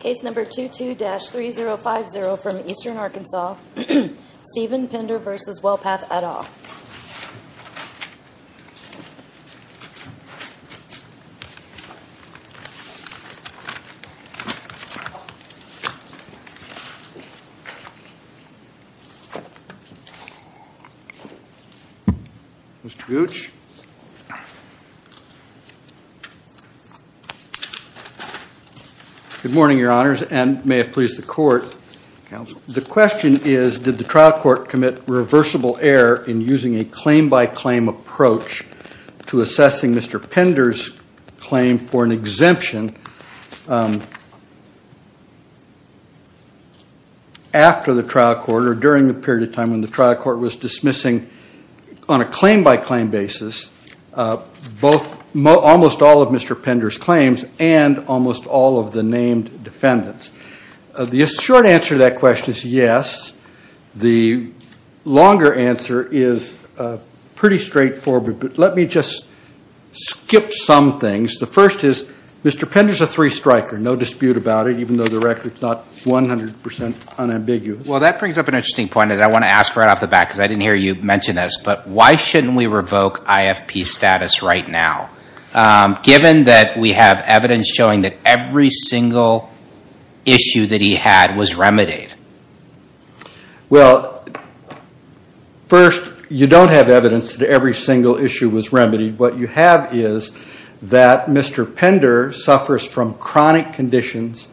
Case number 22-3050 from Eastern Arkansas, Steven Pinder v. WellPath et al. Mr. Gooch. Good morning, Your Honors, and may it please the Court, Counsel. The question is, did the trial court commit reversible error in using a claim-by-claim approach to assessing Mr. Pinder's claim for an exemption after the trial court or during the period of time when the trial court was dismissing, on a claim-by-claim basis, almost all of Mr. Pinder's claims and almost all of the named defendants? The short answer to that question is yes. The longer answer is pretty straightforward, but let me just skip some things. The first is, Mr. Pinder's a three-striker, no dispute about it, even though the record's not 100 percent unambiguous. Well, that brings up an interesting point that I want to ask right off the bat, because I didn't hear you mention this, but why shouldn't we revoke IFP status right now, given that we have evidence showing that every single issue that he had was remedied? Well, first, you don't have evidence that every single issue was remedied. What you have is that Mr. Pinder suffers from chronic conditions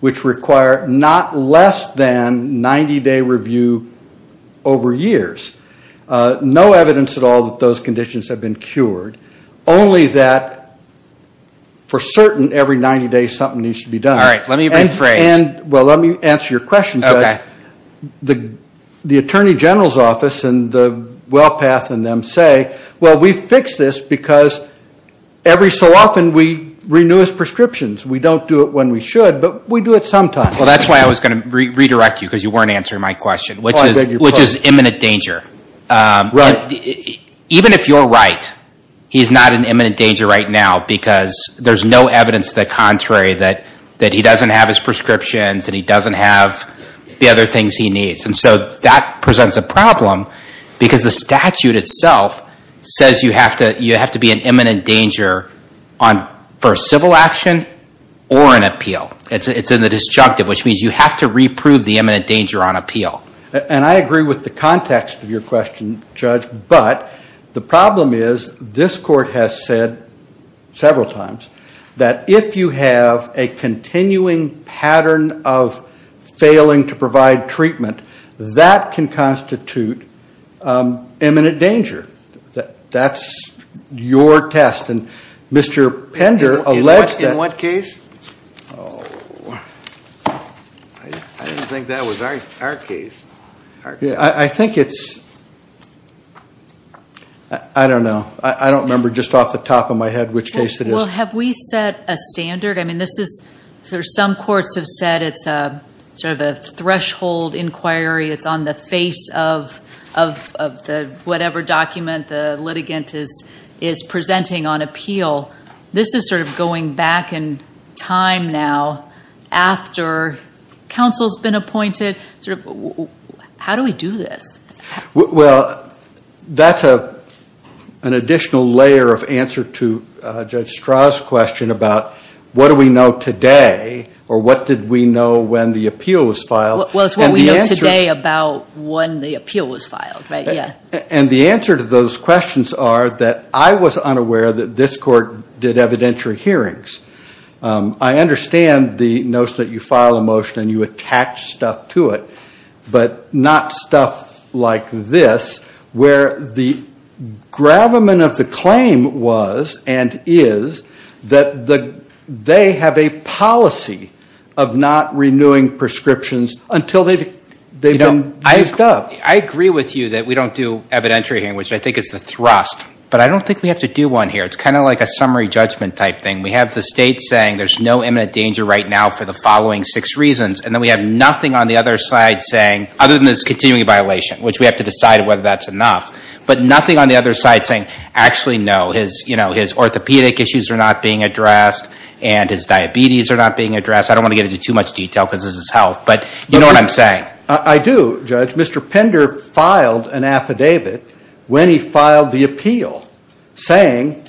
which require not less than 90-day review over years. No evidence at all that those conditions have been cured, only that for certain, every 90 days something needs to be done. All right, let me rephrase. Well, let me answer your question. The Attorney General's Office and the WellPath and them say, well, we fixed this because every so often we renew his prescriptions. We don't do it when we should, but we do it sometimes. Well, that's why I was going to redirect you because you weren't answering my question, which is imminent danger. Even if you're right, he's not in imminent danger right now because there's no evidence to the contrary that he doesn't have his prescriptions and he doesn't have the other things he needs. And so that presents a problem because the statute itself says you have to be in imminent danger for a civil action or an appeal. It's in the disjunctive, which means you have to reprove the imminent danger on appeal. And I agree with the context of your question, Judge, but the problem is this Court has said several times that if you have a continuing pattern of failing to provide treatment, that can constitute imminent danger. That's your test. And Mr. Pender alleged that... In what case? Oh, I didn't think that was our case. I think it's... I don't know. I don't remember just off the top of my head which case it is. Well, have we set a standard? Some courts have said it's sort of a threshold inquiry. It's on the face of whatever document the litigant is presenting on appeal. This is sort of going back in time now after counsel's been appointed. How do we do this? Well, that's an additional layer of answer to Judge Strah's question about what do we know today or what did we know when the appeal was filed. Well, it's what we know today about when the appeal was filed, right? Yeah. And the answer to those questions are that I was unaware that this Court did evidentiary hearings. I understand the notion that you file a motion and you attach stuff to it, but not stuff like this where the gravamen of the claim was and is that they have a policy of not renewing prescriptions until they've been used up. Well, I agree with you that we don't do evidentiary hearing, which I think is the thrust, but I don't think we have to do one here. It's kind of like a summary judgment type thing. We have the State saying there's no imminent danger right now for the following six reasons, and then we have nothing on the other side saying, other than this continuing violation, which we have to decide whether that's enough, but nothing on the other side saying, actually, no, his orthopedic issues are not being addressed and his diabetes are not being addressed. I don't want to get into too much detail because this is health, but you know what I'm saying. I do, Judge. Mr. Pender filed an affidavit when he filed the appeal saying,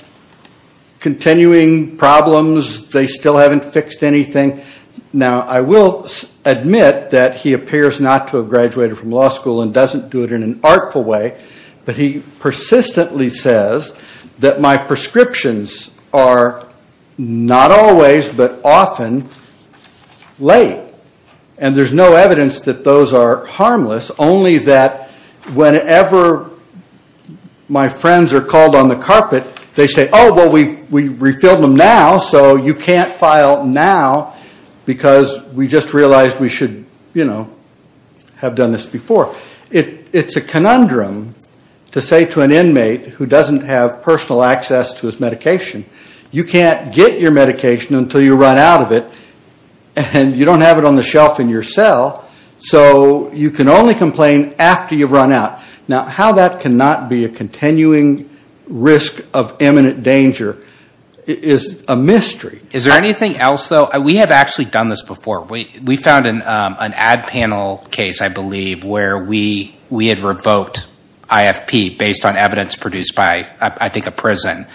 continuing problems, they still haven't fixed anything. Now, I will admit that he appears not to have graduated from law school and doesn't do it in an artful way, but he persistently says that my prescriptions are not always but often late, and there's no evidence that those are harmless, only that whenever my friends are called on the carpet, they say, oh, well, we refilled them now, so you can't file now because we just realized we should have done this before. It's a conundrum to say to an inmate who doesn't have personal access to his medication, you can't get your medication until you run out of it, and you don't have it on the shelf in your cell, so you can only complain after you've run out. Now, how that cannot be a continuing risk of imminent danger is a mystery. Is there anything else, though? We have actually done this before. We found an ad panel case, I believe, where we had revoked IFP based on evidence produced by, I think, a prison.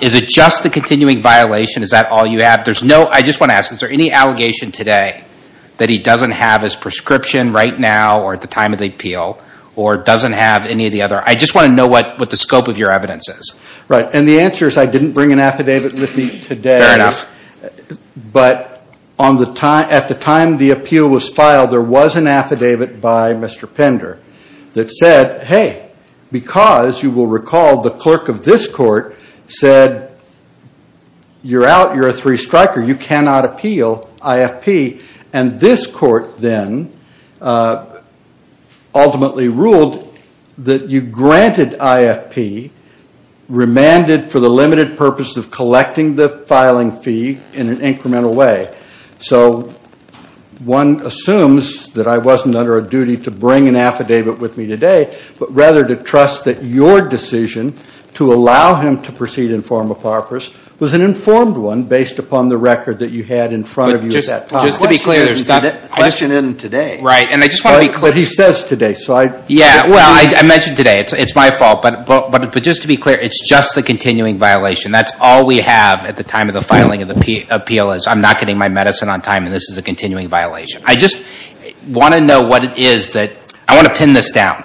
Is it just the continuing violation? Is that all you have? I just want to ask, is there any allegation today that he doesn't have his prescription right now or at the time of the appeal or doesn't have any of the other? I just want to know what the scope of your evidence is. Right, and the answer is I didn't bring an affidavit with me today. Fair enough. But at the time the appeal was filed, there was an affidavit by Mr. Pender that said, hey, because you will recall the clerk of this court said you're out, you're a three striker, you cannot appeal IFP. And this court then ultimately ruled that you granted IFP, remanded for the limited purpose of collecting the filing fee in an incremental way. So one assumes that I wasn't under a duty to bring an affidavit with me today, but rather to trust that your decision to allow him to proceed in formal purpose was an informed one based upon the record that you had in front of you at that time. Just to be clear, the question isn't today. Right, and I just want to be clear. But he says today. Yeah, well, I mentioned today. It's my fault. But just to be clear, it's just the continuing violation. That's all we have at the time of the filing of the appeal is I'm not getting my medicine on time and this is a continuing violation. I just want to know what it is that I want to pin this down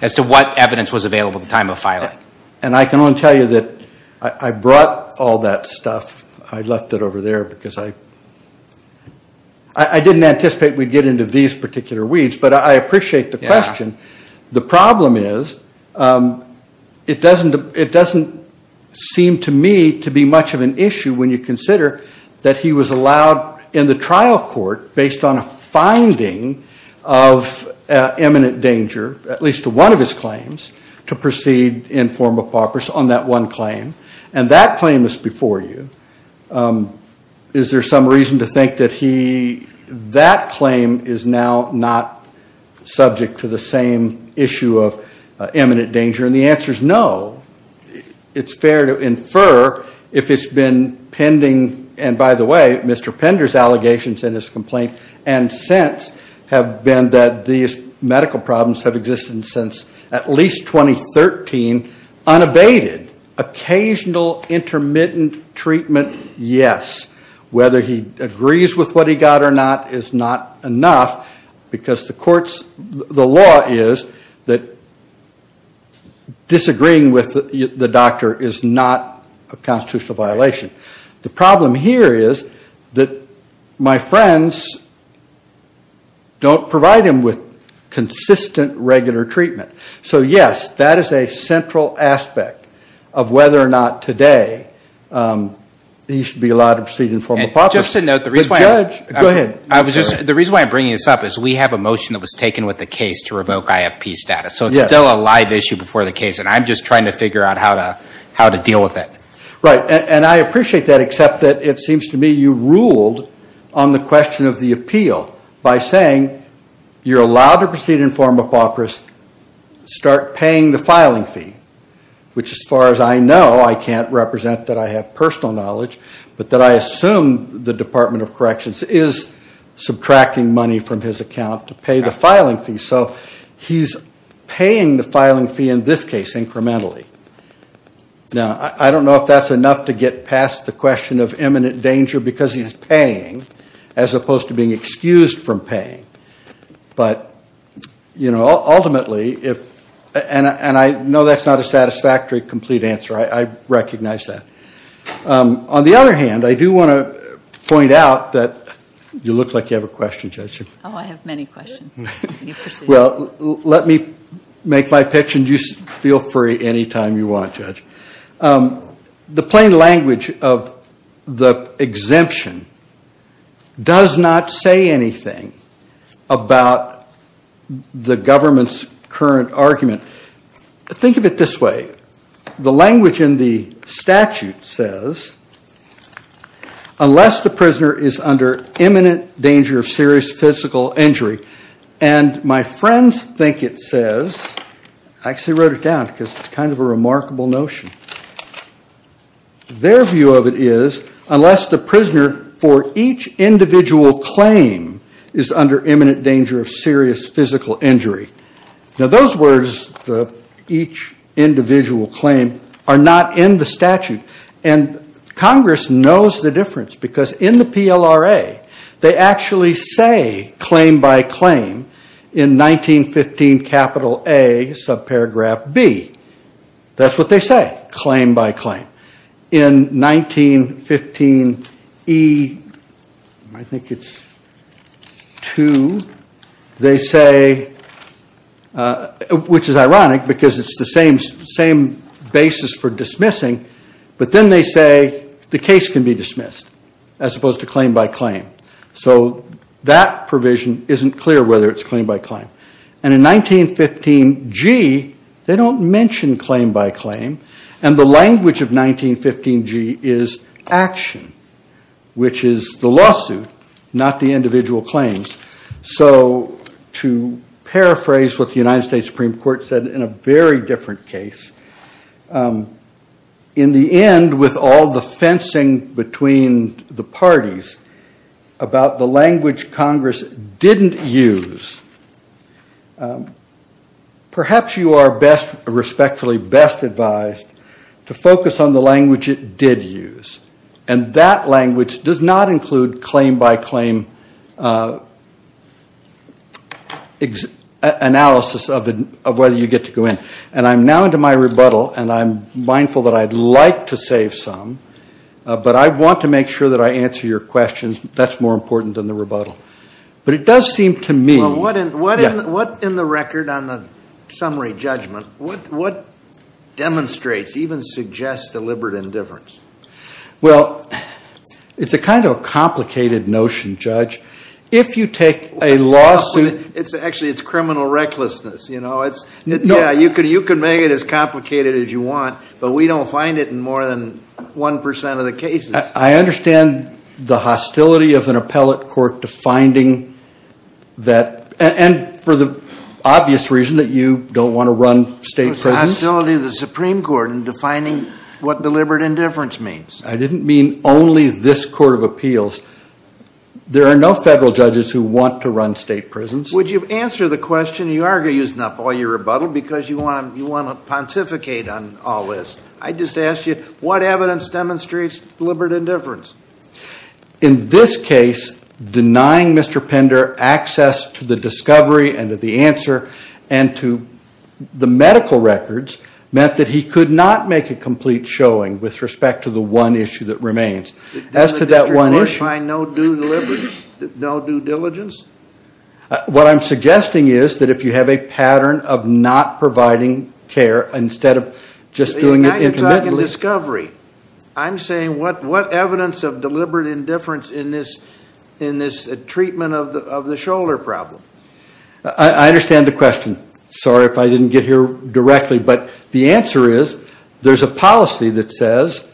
as to what evidence was available at the time of filing. And I can only tell you that I brought all that stuff. I left it over there because I didn't anticipate we'd get into these particular weeds. But I appreciate the question. The problem is it doesn't seem to me to be much of an issue when you consider that he was allowed in the trial court based on a finding of imminent danger, at least to one of his claims, to proceed in formal purpose on that one claim. And that claim is before you. Is there some reason to think that that claim is now not subject to the same issue of imminent danger? And the answer is no. It's fair to infer if it's been pending. And by the way, Mr. Pender's allegations in his complaint and since have been that these medical problems have existed since at least 2013, unabated. Occasional intermittent treatment, yes. Whether he agrees with what he got or not is not enough because the law is that disagreeing with the doctor is not a constitutional violation. The problem here is that my friends don't provide him with consistent regular treatment. So yes, that is a central aspect of whether or not today he should be allowed to proceed in formal process. And just to note, the reason why I'm bringing this up is we have a motion that was taken with the case to revoke IFP status. So it's still a live issue before the case. And I'm just trying to figure out how to deal with it. Right, and I appreciate that except that it seems to me you ruled on the question of the appeal by saying you're allowed to proceed in formal process, start paying the filing fee. Which as far as I know, I can't represent that I have personal knowledge, but that I assume the Department of Corrections is subtracting money from his account to pay the filing fee. So he's paying the filing fee in this case incrementally. Now, I don't know if that's enough to get past the question of imminent danger because he's paying as opposed to being excused from paying. But ultimately, and I know that's not a satisfactory complete answer. I recognize that. On the other hand, I do want to point out that you look like you have a question, Judge. Oh, I have many questions. Well, let me make my pitch and you feel free anytime you want, Judge. The plain language of the exemption does not say anything about the government's current argument. Think of it this way. The language in the statute says, unless the prisoner is under imminent danger of serious physical injury. And my friends think it says, I actually wrote it down because it's kind of a remarkable notion. Their view of it is, unless the prisoner for each individual claim is under imminent danger of serious physical injury. Now, those words, each individual claim, are not in the statute. And Congress knows the difference because in the PLRA, they actually say claim by claim in 1915 capital A, subparagraph B. That's what they say, claim by claim. In 1915 E, I think it's 2, they say, which is ironic because it's the same basis for dismissing, but then they say the case can be dismissed as opposed to claim by claim. So that provision isn't clear whether it's claim by claim. And in 1915 G, they don't mention claim by claim. And the language of 1915 G is action, which is the lawsuit, not the individual claims. So to paraphrase what the United States Supreme Court said in a very different case, in the end, with all the fencing between the parties about the language Congress didn't use, perhaps you are respectfully best advised to focus on the language it did use. And that language does not include claim by claim analysis of whether you get to go in. And I'm now into my rebuttal, and I'm mindful that I'd like to save some, but I want to make sure that I answer your questions. That's more important than the rebuttal. But it does seem to me- Well, what in the record on the summary judgment, what demonstrates, even suggests, deliberate indifference? Well, it's a kind of a complicated notion, Judge. If you take a lawsuit- Actually, it's criminal recklessness, you know. Yeah, you can make it as complicated as you want, but we don't find it in more than 1% of the cases. I understand the hostility of an appellate court defining that, and for the obvious reason that you don't want to run state prisons. It was the hostility of the Supreme Court in defining what deliberate indifference means. I didn't mean only this court of appeals. There are no federal judges who want to run state prisons. Would you answer the question? You are using up all your rebuttal because you want to pontificate on all this. I just asked you, what evidence demonstrates deliberate indifference? In this case, denying Mr. Pender access to the discovery and to the answer and to the medical records meant that he could not make a complete showing with respect to the one issue that remains. As to that one issue- Did the district court find no due deliberate, no due diligence? What I'm suggesting is that if you have a pattern of not providing care instead of just doing- I'm not talking discovery. I'm saying what evidence of deliberate indifference in this treatment of the shoulder problem? I understand the question. Sorry if I didn't get here directly, but the answer is there's a policy that says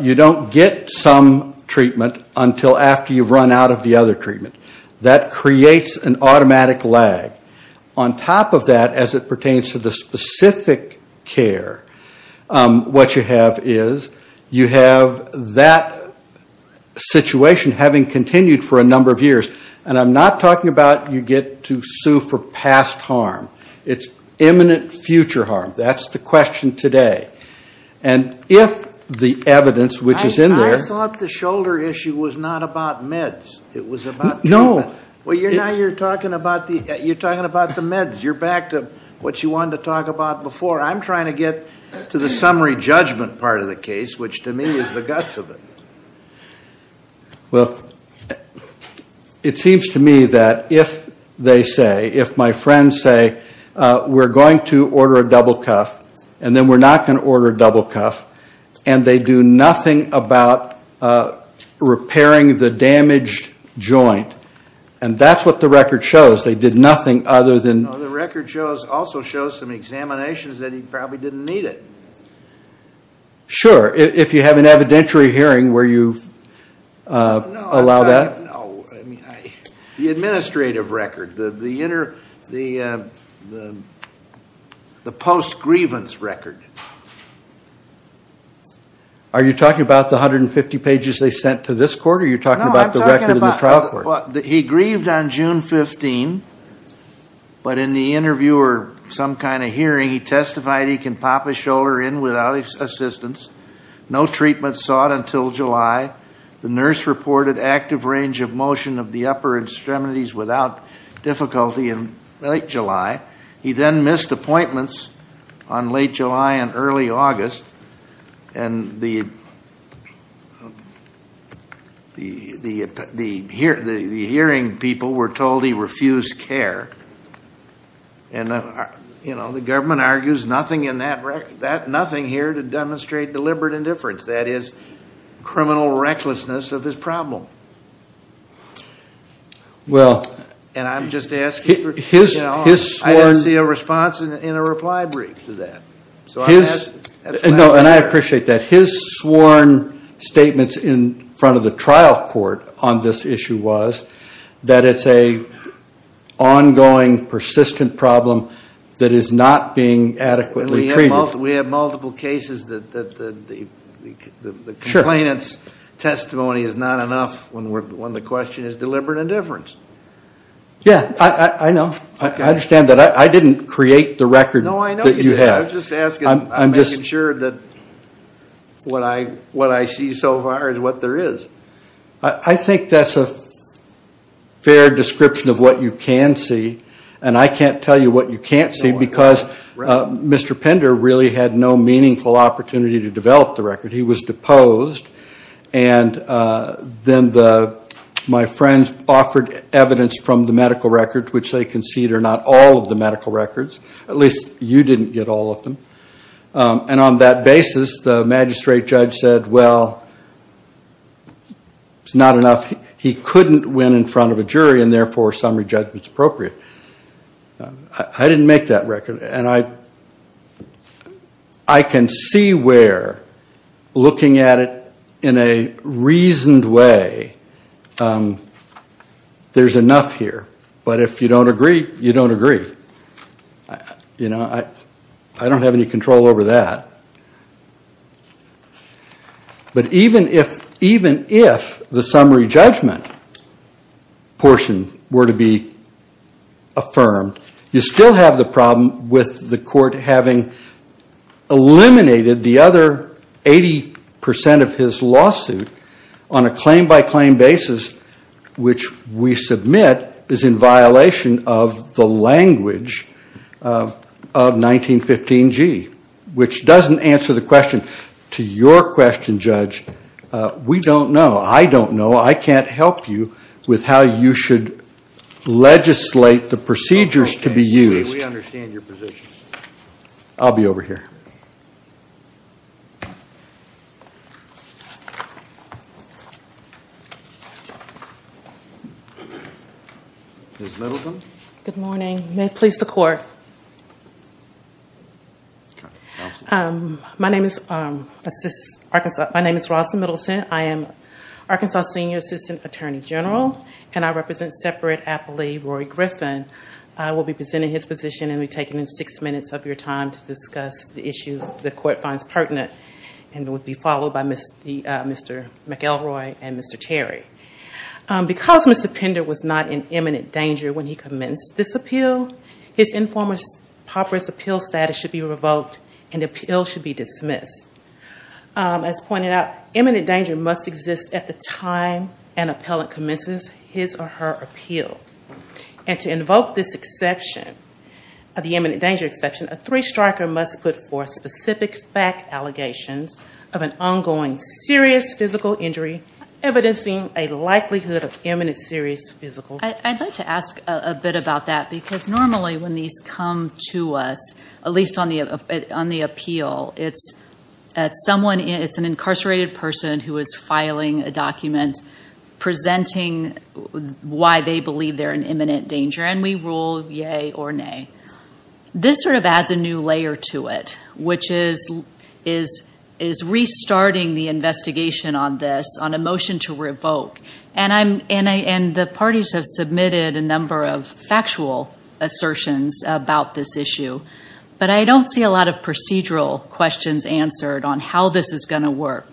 you don't get some treatment until after you've run out of the other treatment. That creates an automatic lag. On top of that, as it pertains to the specific care, what you have is you have that situation having continued for a number of years. And I'm not talking about you get to sue for past harm. It's imminent future harm. That's the question today. And if the evidence, which is in there- I thought the shoulder issue was not about meds. It was about treatment. No. Well, now you're talking about the meds. You're back to what you wanted to talk about before. I'm trying to get to the summary judgment part of the case, which to me is the guts of it. Well, it seems to me that if they say, if my friends say, we're going to order a double cuff and then we're not going to order a double cuff, and they do nothing about repairing the damaged joint, and that's what the record shows. They did nothing other than- The record also shows some examinations that he probably didn't need it. Sure. If you have an evidentiary hearing where you allow that. The administrative record, the post-grievance record. Are you talking about the 150 pages they sent to this court, or are you talking about the record in the trial court? He grieved on June 15, but in the interview or some kind of hearing, he testified he can pop a shoulder in without assistance. No treatment sought until July. The nurse reported active range of motion of the upper extremities without difficulty in late July. He then missed appointments on late July and early August, and the hearing people were told he refused care. The government argues nothing here to demonstrate deliberate indifference. That is criminal recklessness of his problem. Well- And I'm just asking for- His sworn- I didn't see a response in a reply brief to that. No, and I appreciate that. His sworn statements in front of the trial court on this issue was that it's an ongoing persistent problem that is not being adequately treated. We have multiple cases that the complainant's testimony is not enough when the question is deliberate indifference. Yeah, I know. I understand that. I didn't create the record that you have. No, I know you didn't. I'm just asking. I'm making sure that what I see so far is what there is. I think that's a fair description of what you can see, and I can't tell you what you can't see because Mr. Pender really had no meaningful opportunity to develop the record. He was deposed, and then my friends offered evidence from the medical records, which they concede are not all of the medical records. At least you didn't get all of them. And on that basis, the magistrate judge said, well, it's not enough. He couldn't win in front of a jury, and therefore summary judgment's appropriate. I didn't make that record, and I can see where, looking at it in a reasoned way, there's enough here. But if you don't agree, you don't agree. I don't have any control over that. But even if the summary judgment portion were to be affirmed, you still have the problem with the court having eliminated the other 80% of his lawsuit on a claim-by-claim basis, which we submit is in violation of the language of 1915G, which doesn't answer the question. To your question, Judge, we don't know. I don't know. I can't help you with how you should legislate the procedures to be used. We understand your position. I'll be over here. Ms. Middleton? Good morning. May it please the court. My name is Rossin Middleton. I am Arkansas' senior assistant attorney general, and I represent separate appellee Rory Griffin. I will be presenting his position and will be taking six minutes of your time to discuss the issues the court finds pertinent, and will be followed by Mr. McElroy and Mr. Terry. Because Mr. Pender was not in imminent danger when he commenced this appeal, his informer's paupers' appeal status should be revoked and the appeal should be dismissed. As pointed out, imminent danger must exist at the time an appellant commences his or her appeal. And to invoke this exception, the imminent danger exception, a three-striker must put forth specific fact allegations of an ongoing serious physical injury, evidencing a likelihood of imminent serious physical injury. I'd like to ask a bit about that, because normally when these come to us, at least on the appeal, it's an incarcerated person who is filing a document presenting why they believe they're in imminent danger, and we rule yay or nay. This sort of adds a new layer to it, which is restarting the investigation on this, on a motion to revoke. And the parties have submitted a number of factual assertions about this issue, but I don't see a lot of procedural questions answered on how this is going to work.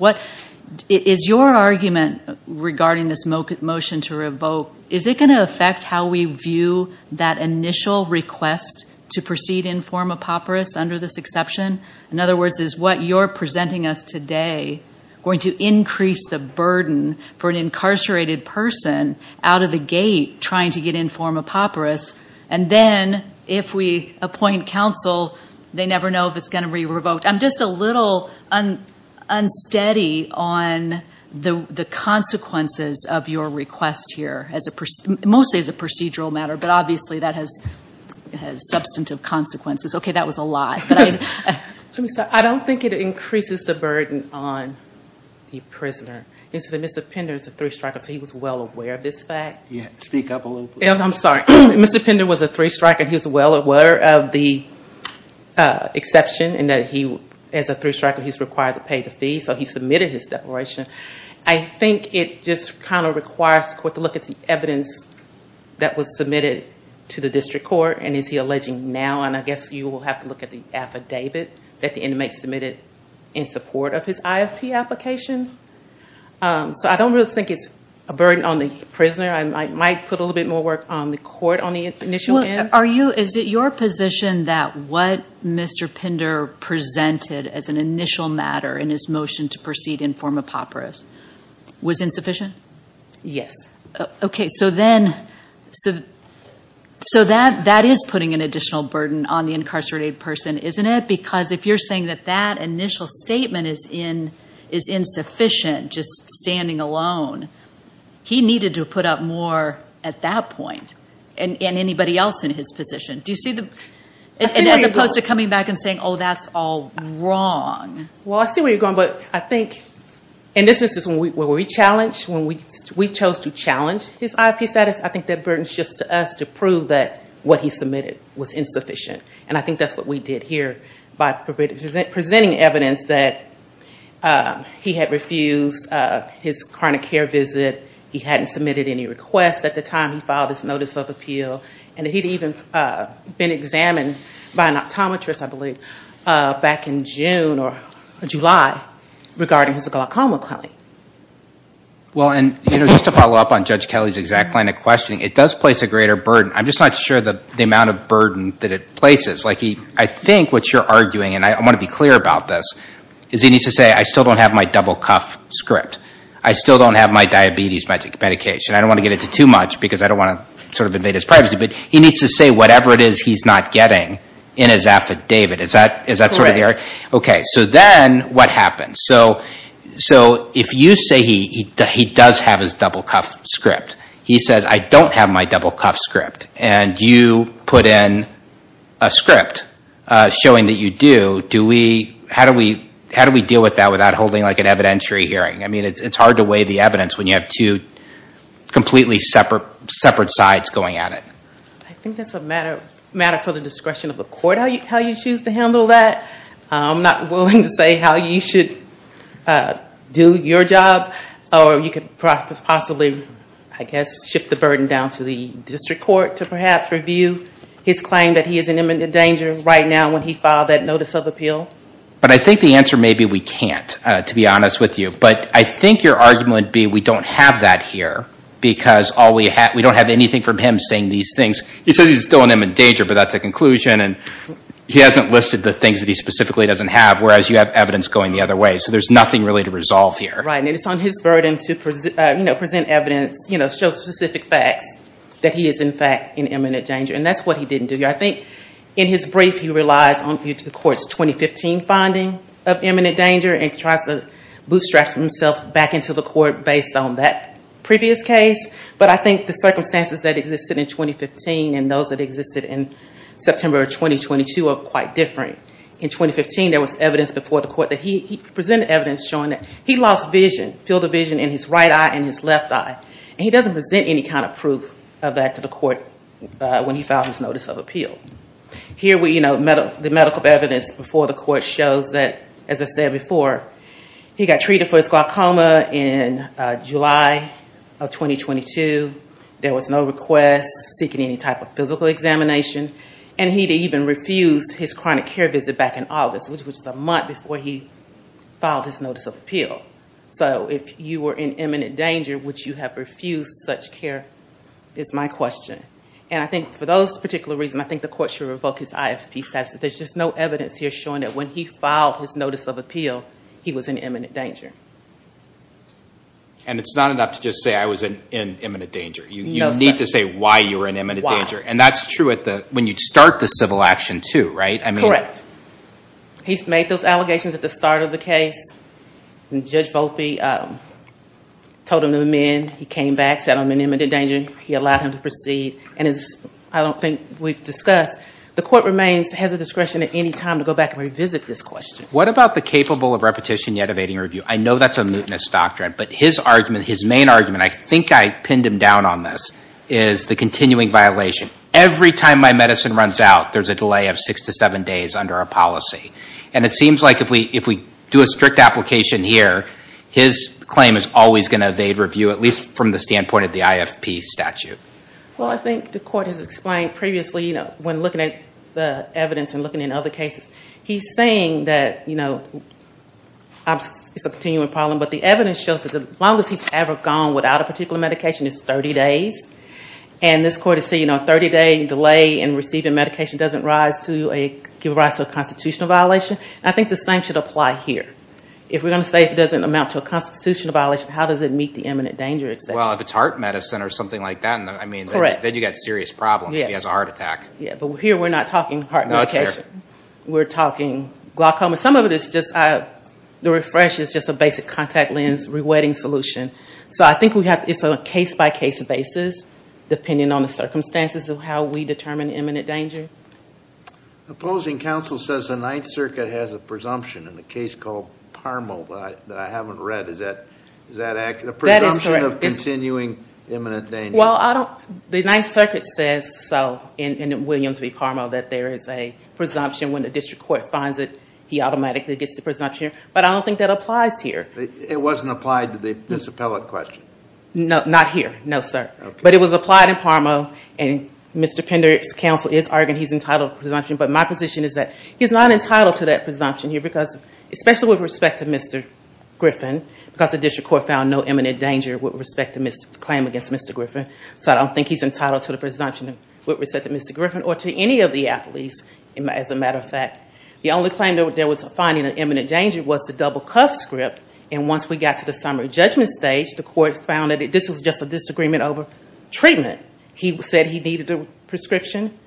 Is your argument regarding this motion to revoke, is it going to affect how we view that initial request to proceed informer paupers under this exception? In other words, is what you're presenting us today going to increase the burden for an incarcerated person out of the gate trying to get informer paupers? And then if we appoint counsel, they never know if it's going to be revoked. I'm just a little unsteady on the consequences of your request here, mostly as a procedural matter, but obviously that has substantive consequences. Okay, that was a lot. Let me start. I don't think it increases the burden on the prisoner. Mr. Pinder is a three-striker, so he was well aware of this fact. Speak up a little bit. I'm sorry. Mr. Pinder was a three-striker. He was well aware of the exception and that he, as a three-striker, he's required to pay the fee, so he submitted his declaration. I think it just kind of requires the court to look at the evidence that was submitted to the district court, and is he alleging now, and I guess you will have to look at the affidavit that the inmate submitted in support of his IFP application. So I don't really think it's a burden on the prisoner. I might put a little bit more work on the court on the initial end. Well, is it your position that what Mr. Pinder presented as an initial matter in his motion to proceed in form of PAPRS was insufficient? Yes. Okay, so that is putting an additional burden on the incarcerated person, isn't it? Because if you're saying that that initial statement is insufficient, just standing alone, he needed to have put up more at that point and anybody else in his position. Do you see the ñ as opposed to coming back and saying, oh, that's all wrong. Well, I see where you're going, but I think, and this is when we challenged, when we chose to challenge his IFP status, I think that burden shifts to us to prove that what he submitted was insufficient, and I think that's what we did here by presenting evidence that he had refused his chronic care visit, he hadn't submitted any requests at the time he filed his notice of appeal, and that he'd even been examined by an optometrist, I believe, back in June or July, regarding his glaucoma claim. Well, and just to follow up on Judge Kelly's exact line of questioning, it does place a greater burden. I'm just not sure the amount of burden that it places. I think what you're arguing, and I want to be clear about this, is he needs to say, I still don't have my double cuff script. I still don't have my diabetes medication. I don't want to get into too much because I don't want to sort of invade his privacy, but he needs to say whatever it is he's not getting in his affidavit. Is that sort of the area? Okay, so then what happens? So if you say he does have his double cuff script, he says, I don't have my double cuff script, and you put in a script showing that you do, how do we deal with that without holding like an evidentiary hearing? I mean, it's hard to weigh the evidence when you have two completely separate sides going at it. I think that's a matter for the discretion of the court, how you choose to handle that. I'm not willing to say how you should do your job, or you could possibly, I guess, shift the burden down to the district court to perhaps review his claim that he is in imminent danger right now when he filed that notice of appeal. But I think the answer may be we can't, to be honest with you. But I think your argument would be we don't have that here because we don't have anything from him saying these things. He says he's still in imminent danger, but that's a conclusion, and he hasn't listed the things that he specifically doesn't have, whereas you have evidence going the other way, so there's nothing really to resolve here. Right, and it's on his burden to present evidence, show specific facts that he is in fact in imminent danger, and that's what he didn't do. I think in his brief he relies on the court's 2015 finding of imminent danger and tries to bootstrap himself back into the court based on that previous case. But I think the circumstances that existed in 2015 and those that existed in September of 2022 are quite different. In 2015 there was evidence before the court that he presented evidence showing that he lost vision, field of vision in his right eye and his left eye, and he doesn't present any kind of proof of that to the court when he filed his notice of appeal. Here the medical evidence before the court shows that, as I said before, he got treated for his glaucoma in July of 2022. There was no request seeking any type of physical examination, and he even refused his chronic care visit back in August, which was a month before he filed his notice of appeal. So if you were in imminent danger, would you have refused such care, is my question. And I think for those particular reasons, I think the court should revoke his IFP statute. There's just no evidence here showing that when he filed his notice of appeal, he was in imminent danger. And it's not enough to just say, I was in imminent danger. You need to say why you were in imminent danger. And that's true when you start the civil action too, right? Correct. He's made those allegations at the start of the case. Judge Volpe told him to amend. He came back, said I'm in imminent danger. He allowed him to proceed. And as I don't think we've discussed, the court has the discretion at any time to go back and revisit this question. What about the capable of repetition yet evading review? I know that's a mootness doctrine, but his argument, his main argument, I think I pinned him down on this, is the continuing violation. Every time my medicine runs out, there's a delay of six to seven days under a policy. And it seems like if we do a strict application here, his claim is always going to evade review, at least from the standpoint of the IFP statute. Well, I think the court has explained previously when looking at the evidence and looking at other cases, he's saying that it's a continuing problem, but the evidence shows that the longest he's ever gone without a particular medication is 30 days. And this court is saying a 30-day delay in receiving medication doesn't give rise to a constitutional violation. I think the same should apply here. If we're going to say it doesn't amount to a constitutional violation, how does it meet the imminent danger? Well, if it's heart medicine or something like that, then you've got serious problems. He has a heart attack. But here we're not talking heart medication. We're talking glaucoma. Some of it is just the refresh is just a basic contact lens rewetting solution. So I think it's a case-by-case basis depending on the circumstances of how we determine imminent danger. Opposing counsel says the Ninth Circuit has a presumption in the case called Parmo that I haven't read. Is that accurate? That is correct. The presumption of continuing imminent danger. The Ninth Circuit says so in Williams v. Parmo that there is a presumption. When the district court finds it, he automatically gets the presumption. But I don't think that applies here. It wasn't applied to this appellate question? No, not here. No, sir. But it was applied in Parmo. And Mr. Pender's counsel is arguing he's entitled to a presumption. But my position is that he's not entitled to that presumption here, especially with respect to Mr. Griffin, because the district court found no imminent danger with respect to the claim against Mr. Griffin. So I don't think he's entitled to the presumption with respect to Mr. Griffin or to any of the appellees, as a matter of fact. The only claim there was finding an imminent danger was the double cuff script. And once we got to the summary judgment stage, the court found that this was just a disagreement over treatment. He said he needed a prescription.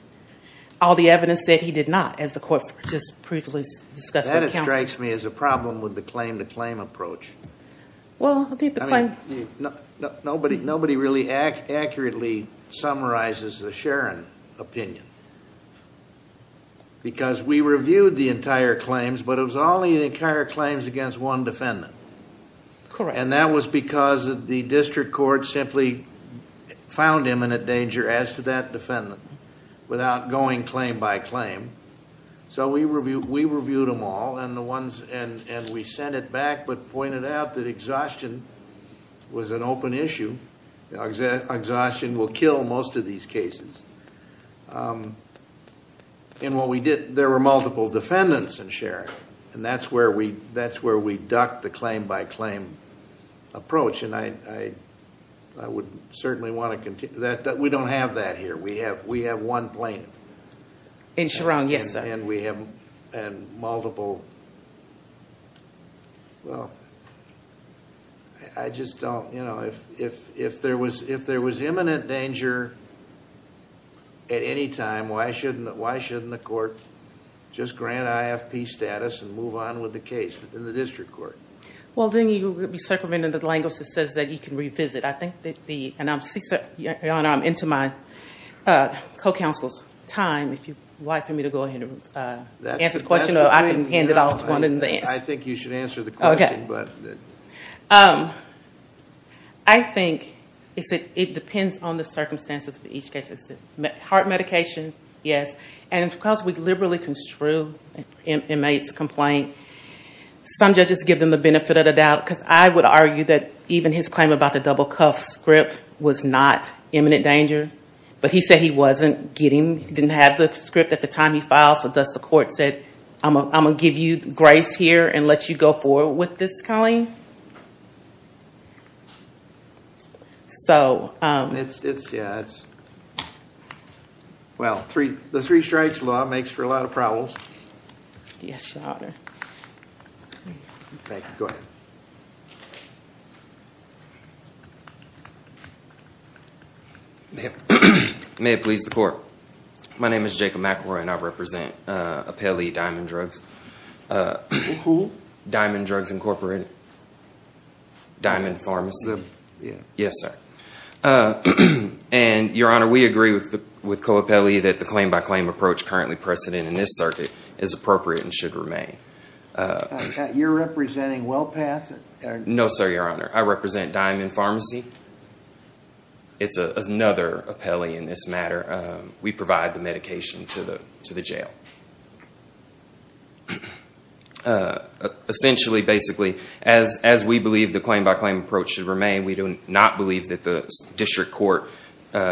All the evidence said he did not, as the court just previously discussed with counsel. That strikes me as a problem with the claim-to-claim approach. Well, I think the claim- Nobody really accurately summarizes the Sharon opinion. Because we reviewed the entire claims, but it was only the entire claims against one defendant. Correct. And that was because the district court simply found imminent danger as to that defendant without going claim by claim. So we reviewed them all, and we sent it back but pointed out that exhaustion was an open issue. Exhaustion will kill most of these cases. And what we did, there were multiple defendants in Sharon. And that's where we ducked the claim-by-claim approach. And I would certainly want to continue that. We don't have that here. We have one plaintiff. In Sharon, yes, sir. And we have multiple- Well, I just don't- If there was imminent danger at any time, why shouldn't the court just grant IFP status and move on with the case in the district court? Well, then you would be circumventing the language that says that you can revisit. Your Honor, I'm into my co-counsel's time. If you'd like for me to go ahead and answer the question, or I can hand it off to one of the answers. I think you should answer the question. Okay. I think it depends on the circumstances for each case. Heart medication, yes. And because we liberally construe an inmate's complaint, some judges give them the benefit of the doubt. Because I would argue that even his claim about the double-cuff script was not imminent danger. But he said he wasn't getting, he didn't have the script at the time he filed, so thus the court said, I'm going to give you grace here and let you go forward with this, Colleen. So- It's, yeah, it's- Well, the three strikes law makes for a lot of problems. Yes, Your Honor. Thank you. Go ahead. May it please the court. My name is Jacob McElroy and I represent Apelli Diamond Drugs. Who? Diamond Drugs Incorporated. Diamond Pharmacy. Yes, sir. And, Your Honor, we agree with Co-Apelli that the claim-by-claim approach currently precedent in this circuit is appropriate and should remain. You're representing WellPath? No, sir, Your Honor. I represent Diamond Pharmacy. It's another Apelli in this matter. We provide the medication to the jail. Essentially, basically, as we believe the claim-by-claim approach should remain, we do not believe that the district court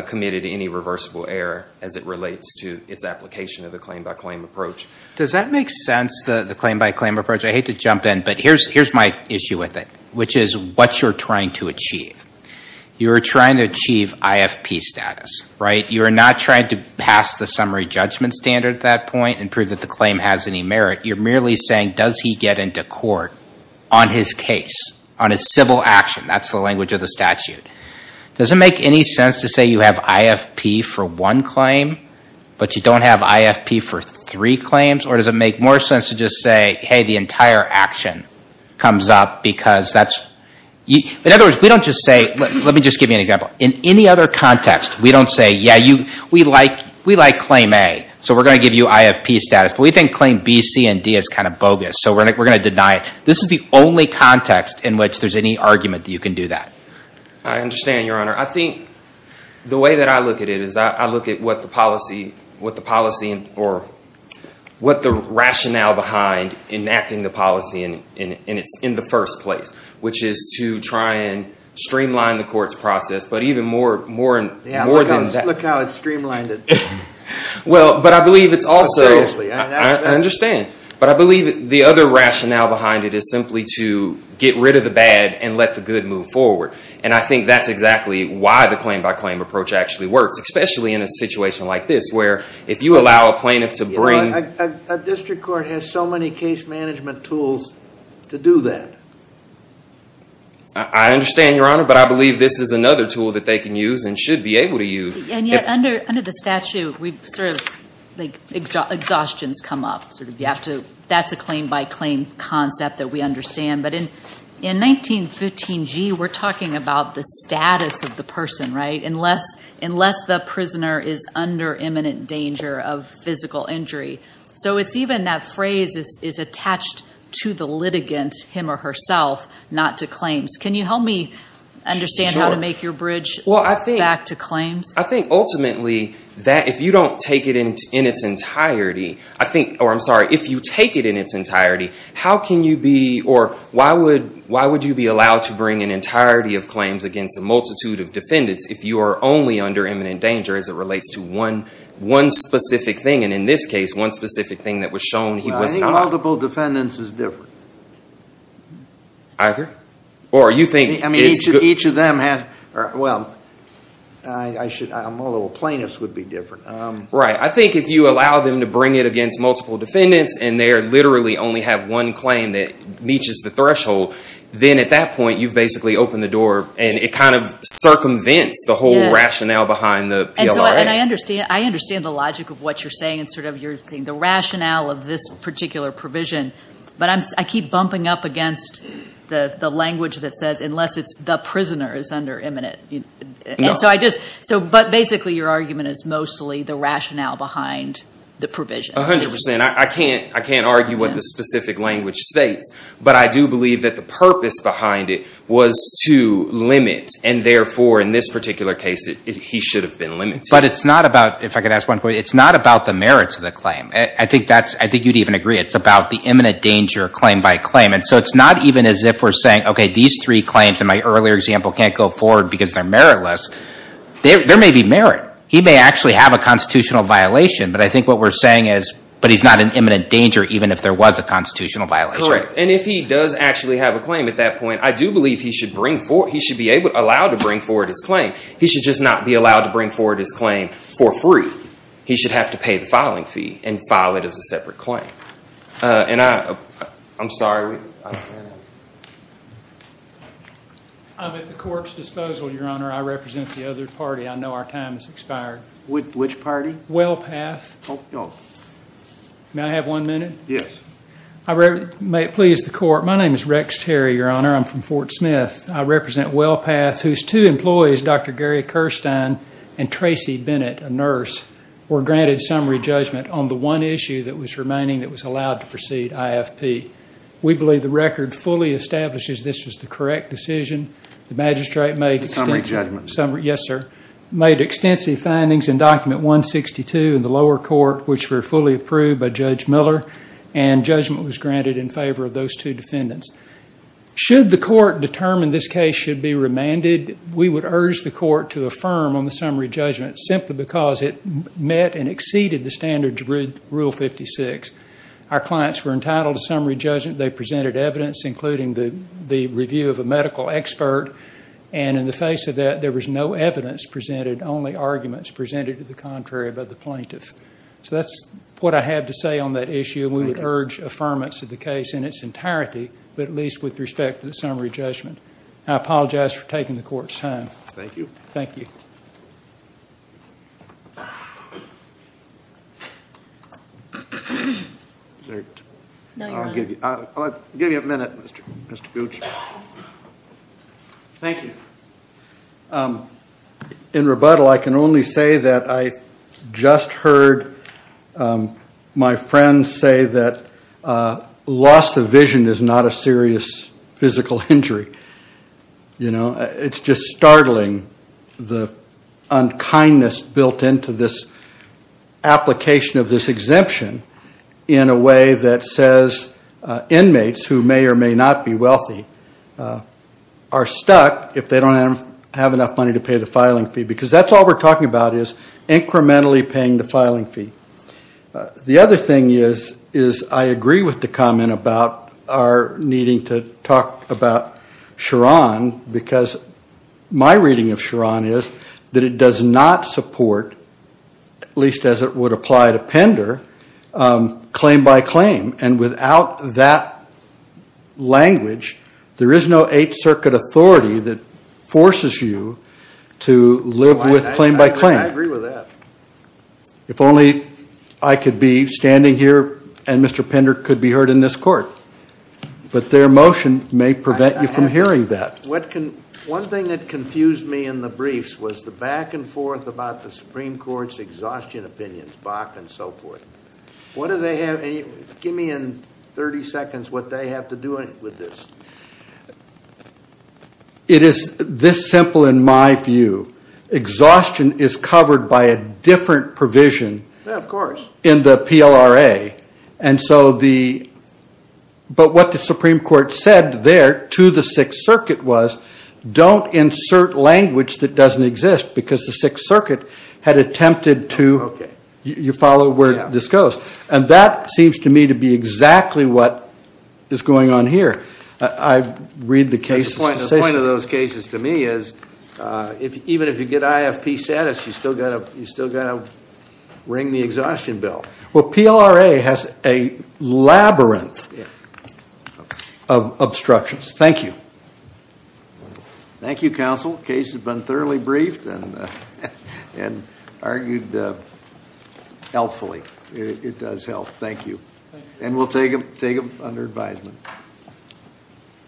committed any reversible error as it relates to its application of the claim-by-claim approach. Does that make sense, the claim-by-claim approach? I hate to jump in, but here's my issue with it, which is what you're trying to achieve. You're trying to achieve IFP status, right? You're not trying to pass the summary judgment standard at that point and prove that the claim has any merit. You're merely saying, does he get into court on his case, on his civil action? That's the language of the statute. Does it make any sense to say you have IFP for one claim, but you don't have IFP for three claims? Or does it make more sense to just say, hey, the entire action comes up because that's – in other words, we don't just say – let me just give you an example. In any other context, we don't say, yeah, we like claim A, so we're going to give you IFP status. But we think claim B, C, and D is kind of bogus, so we're going to deny it. This is the only context in which there's any argument that you can do that. I understand, Your Honor. I think the way that I look at it is I look at what the policy – or what the rationale behind enacting the policy in the first place, which is to try and streamline the court's process. But even more than that – Look how it's streamlined it. Well, but I believe it's also – Seriously. I understand. But I believe the other rationale behind it is simply to get rid of the bad and let the good move forward. And I think that's exactly why the claim-by-claim approach actually works, especially in a situation like this where if you allow a plaintiff to bring – A district court has so many case management tools to do that. I understand, Your Honor, but I believe this is another tool that they can use and should be able to use. And yet under the statute, we've sort of – like, exhaustions come up. Sort of you have to – that's a claim-by-claim concept that we understand. But in 1915G, we're talking about the status of the person, right? Unless the prisoner is under imminent danger of physical injury. So it's even that phrase is attached to the litigant, him or herself, not to claims. Can you help me understand how to make your bridge back to claims? I think ultimately that if you don't take it in its entirety, I think – or I'm sorry. If you take it in its entirety, how can you be – or why would you be allowed to bring an entirety of claims against a multitude of defendants if you are only under imminent danger as it relates to one specific thing? And in this case, one specific thing that was shown he was not. Well, I think multiple defendants is different. I agree. Or you think it's – Well, I should – although plaintiffs would be different. Right. I think if you allow them to bring it against multiple defendants and they literally only have one claim that reaches the threshold, then at that point you've basically opened the door and it kind of circumvents the whole rationale behind the PLRA. I understand the logic of what you're saying and sort of you're saying the rationale of this particular provision, but I keep bumping up against the language that says unless it's the prisoner is under imminent. No. And so I just – but basically your argument is mostly the rationale behind the provision. A hundred percent. I can't argue what the specific language states, but I do believe that the purpose behind it was to limit and therefore in this particular case he should have been limited. But it's not about – if I could ask one quick – it's not about the merits of the claim. I think that's – I think you'd even agree it's about the imminent danger claim by claim. And so it's not even as if we're saying, okay, these three claims in my earlier example can't go forward because they're meritless. There may be merit. He may actually have a constitutional violation, but I think what we're saying is but he's not in imminent danger even if there was a constitutional violation. Correct. And if he does actually have a claim at that point, I do believe he should bring – he should be allowed to bring forward his claim. He should just not be allowed to bring forward his claim for free. He should have to pay the filing fee and file it as a separate claim. And I'm sorry. I'm at the court's disposal, Your Honor. I represent the other party. I know our time has expired. Which party? WellPath. May I have one minute? Yes. May it please the court. My name is Rex Terry, Your Honor. I'm from Fort Smith. I represent WellPath whose two employees, Dr. Gary Kirstein and Tracy Bennett, a nurse, were granted summary judgment on the one issue that was remaining that was allowed to proceed IFP. We believe the record fully establishes this was the correct decision. The magistrate made extensive – Summary judgment. Yes, sir. Made extensive findings in Document 162 in the lower court which were fully approved by Judge Miller and judgment was granted in favor of those two defendants. Should the court determine this case should be remanded, we would urge the court to affirm on the summary judgment simply because it met and exceeded the standards of Rule 56. Our clients were entitled to summary judgment. They presented evidence, including the review of a medical expert. And in the face of that, there was no evidence presented, only arguments presented to the contrary by the plaintiff. So that's what I have to say on that issue. We would urge affirmance of the case in its entirety, but at least with respect to the summary judgment. I apologize for taking the court's time. Thank you. Thank you. I'll give you a minute, Mr. Gooch. Thank you. In rebuttal, I can only say that I just heard my friend say that loss of vision is not a serious physical injury. You know, it's just startling the unkindness built into this application of this exemption in a way that says inmates who may or may not be wealthy are stuck if they don't have enough money to pay the filing fee. Because that's all we're talking about is incrementally paying the filing fee. The other thing is I agree with the comment about our needing to talk about Chiron because my reading of Chiron is that it does not support, at least as it would apply to Pender, claim by claim. And without that language, there is no Eighth Circuit authority that forces you to live with claim by claim. I agree with that. If only I could be standing here and Mr. Pender could be heard in this court. But their motion may prevent you from hearing that. One thing that confused me in the briefs was the back and forth about the Supreme Court's exhaustion opinions, Bach and so forth. Give me in 30 seconds what they have to do with this. It is this simple in my view. Exhaustion is covered by a different provision in the PLRA. But what the Supreme Court said there to the Sixth Circuit was don't insert language that doesn't exist because the Sixth Circuit had attempted to, you follow where this goes. And that seems to me to be exactly what is going on here. I read the cases. The point of those cases to me is even if you get IFP status, you still got to ring the exhaustion bill. Well, PLRA has a labyrinth of obstructions. Thank you. Thank you, Counsel. The case has been thoroughly briefed and argued helpfully. It does help. Thank you. And we'll take them under advisement.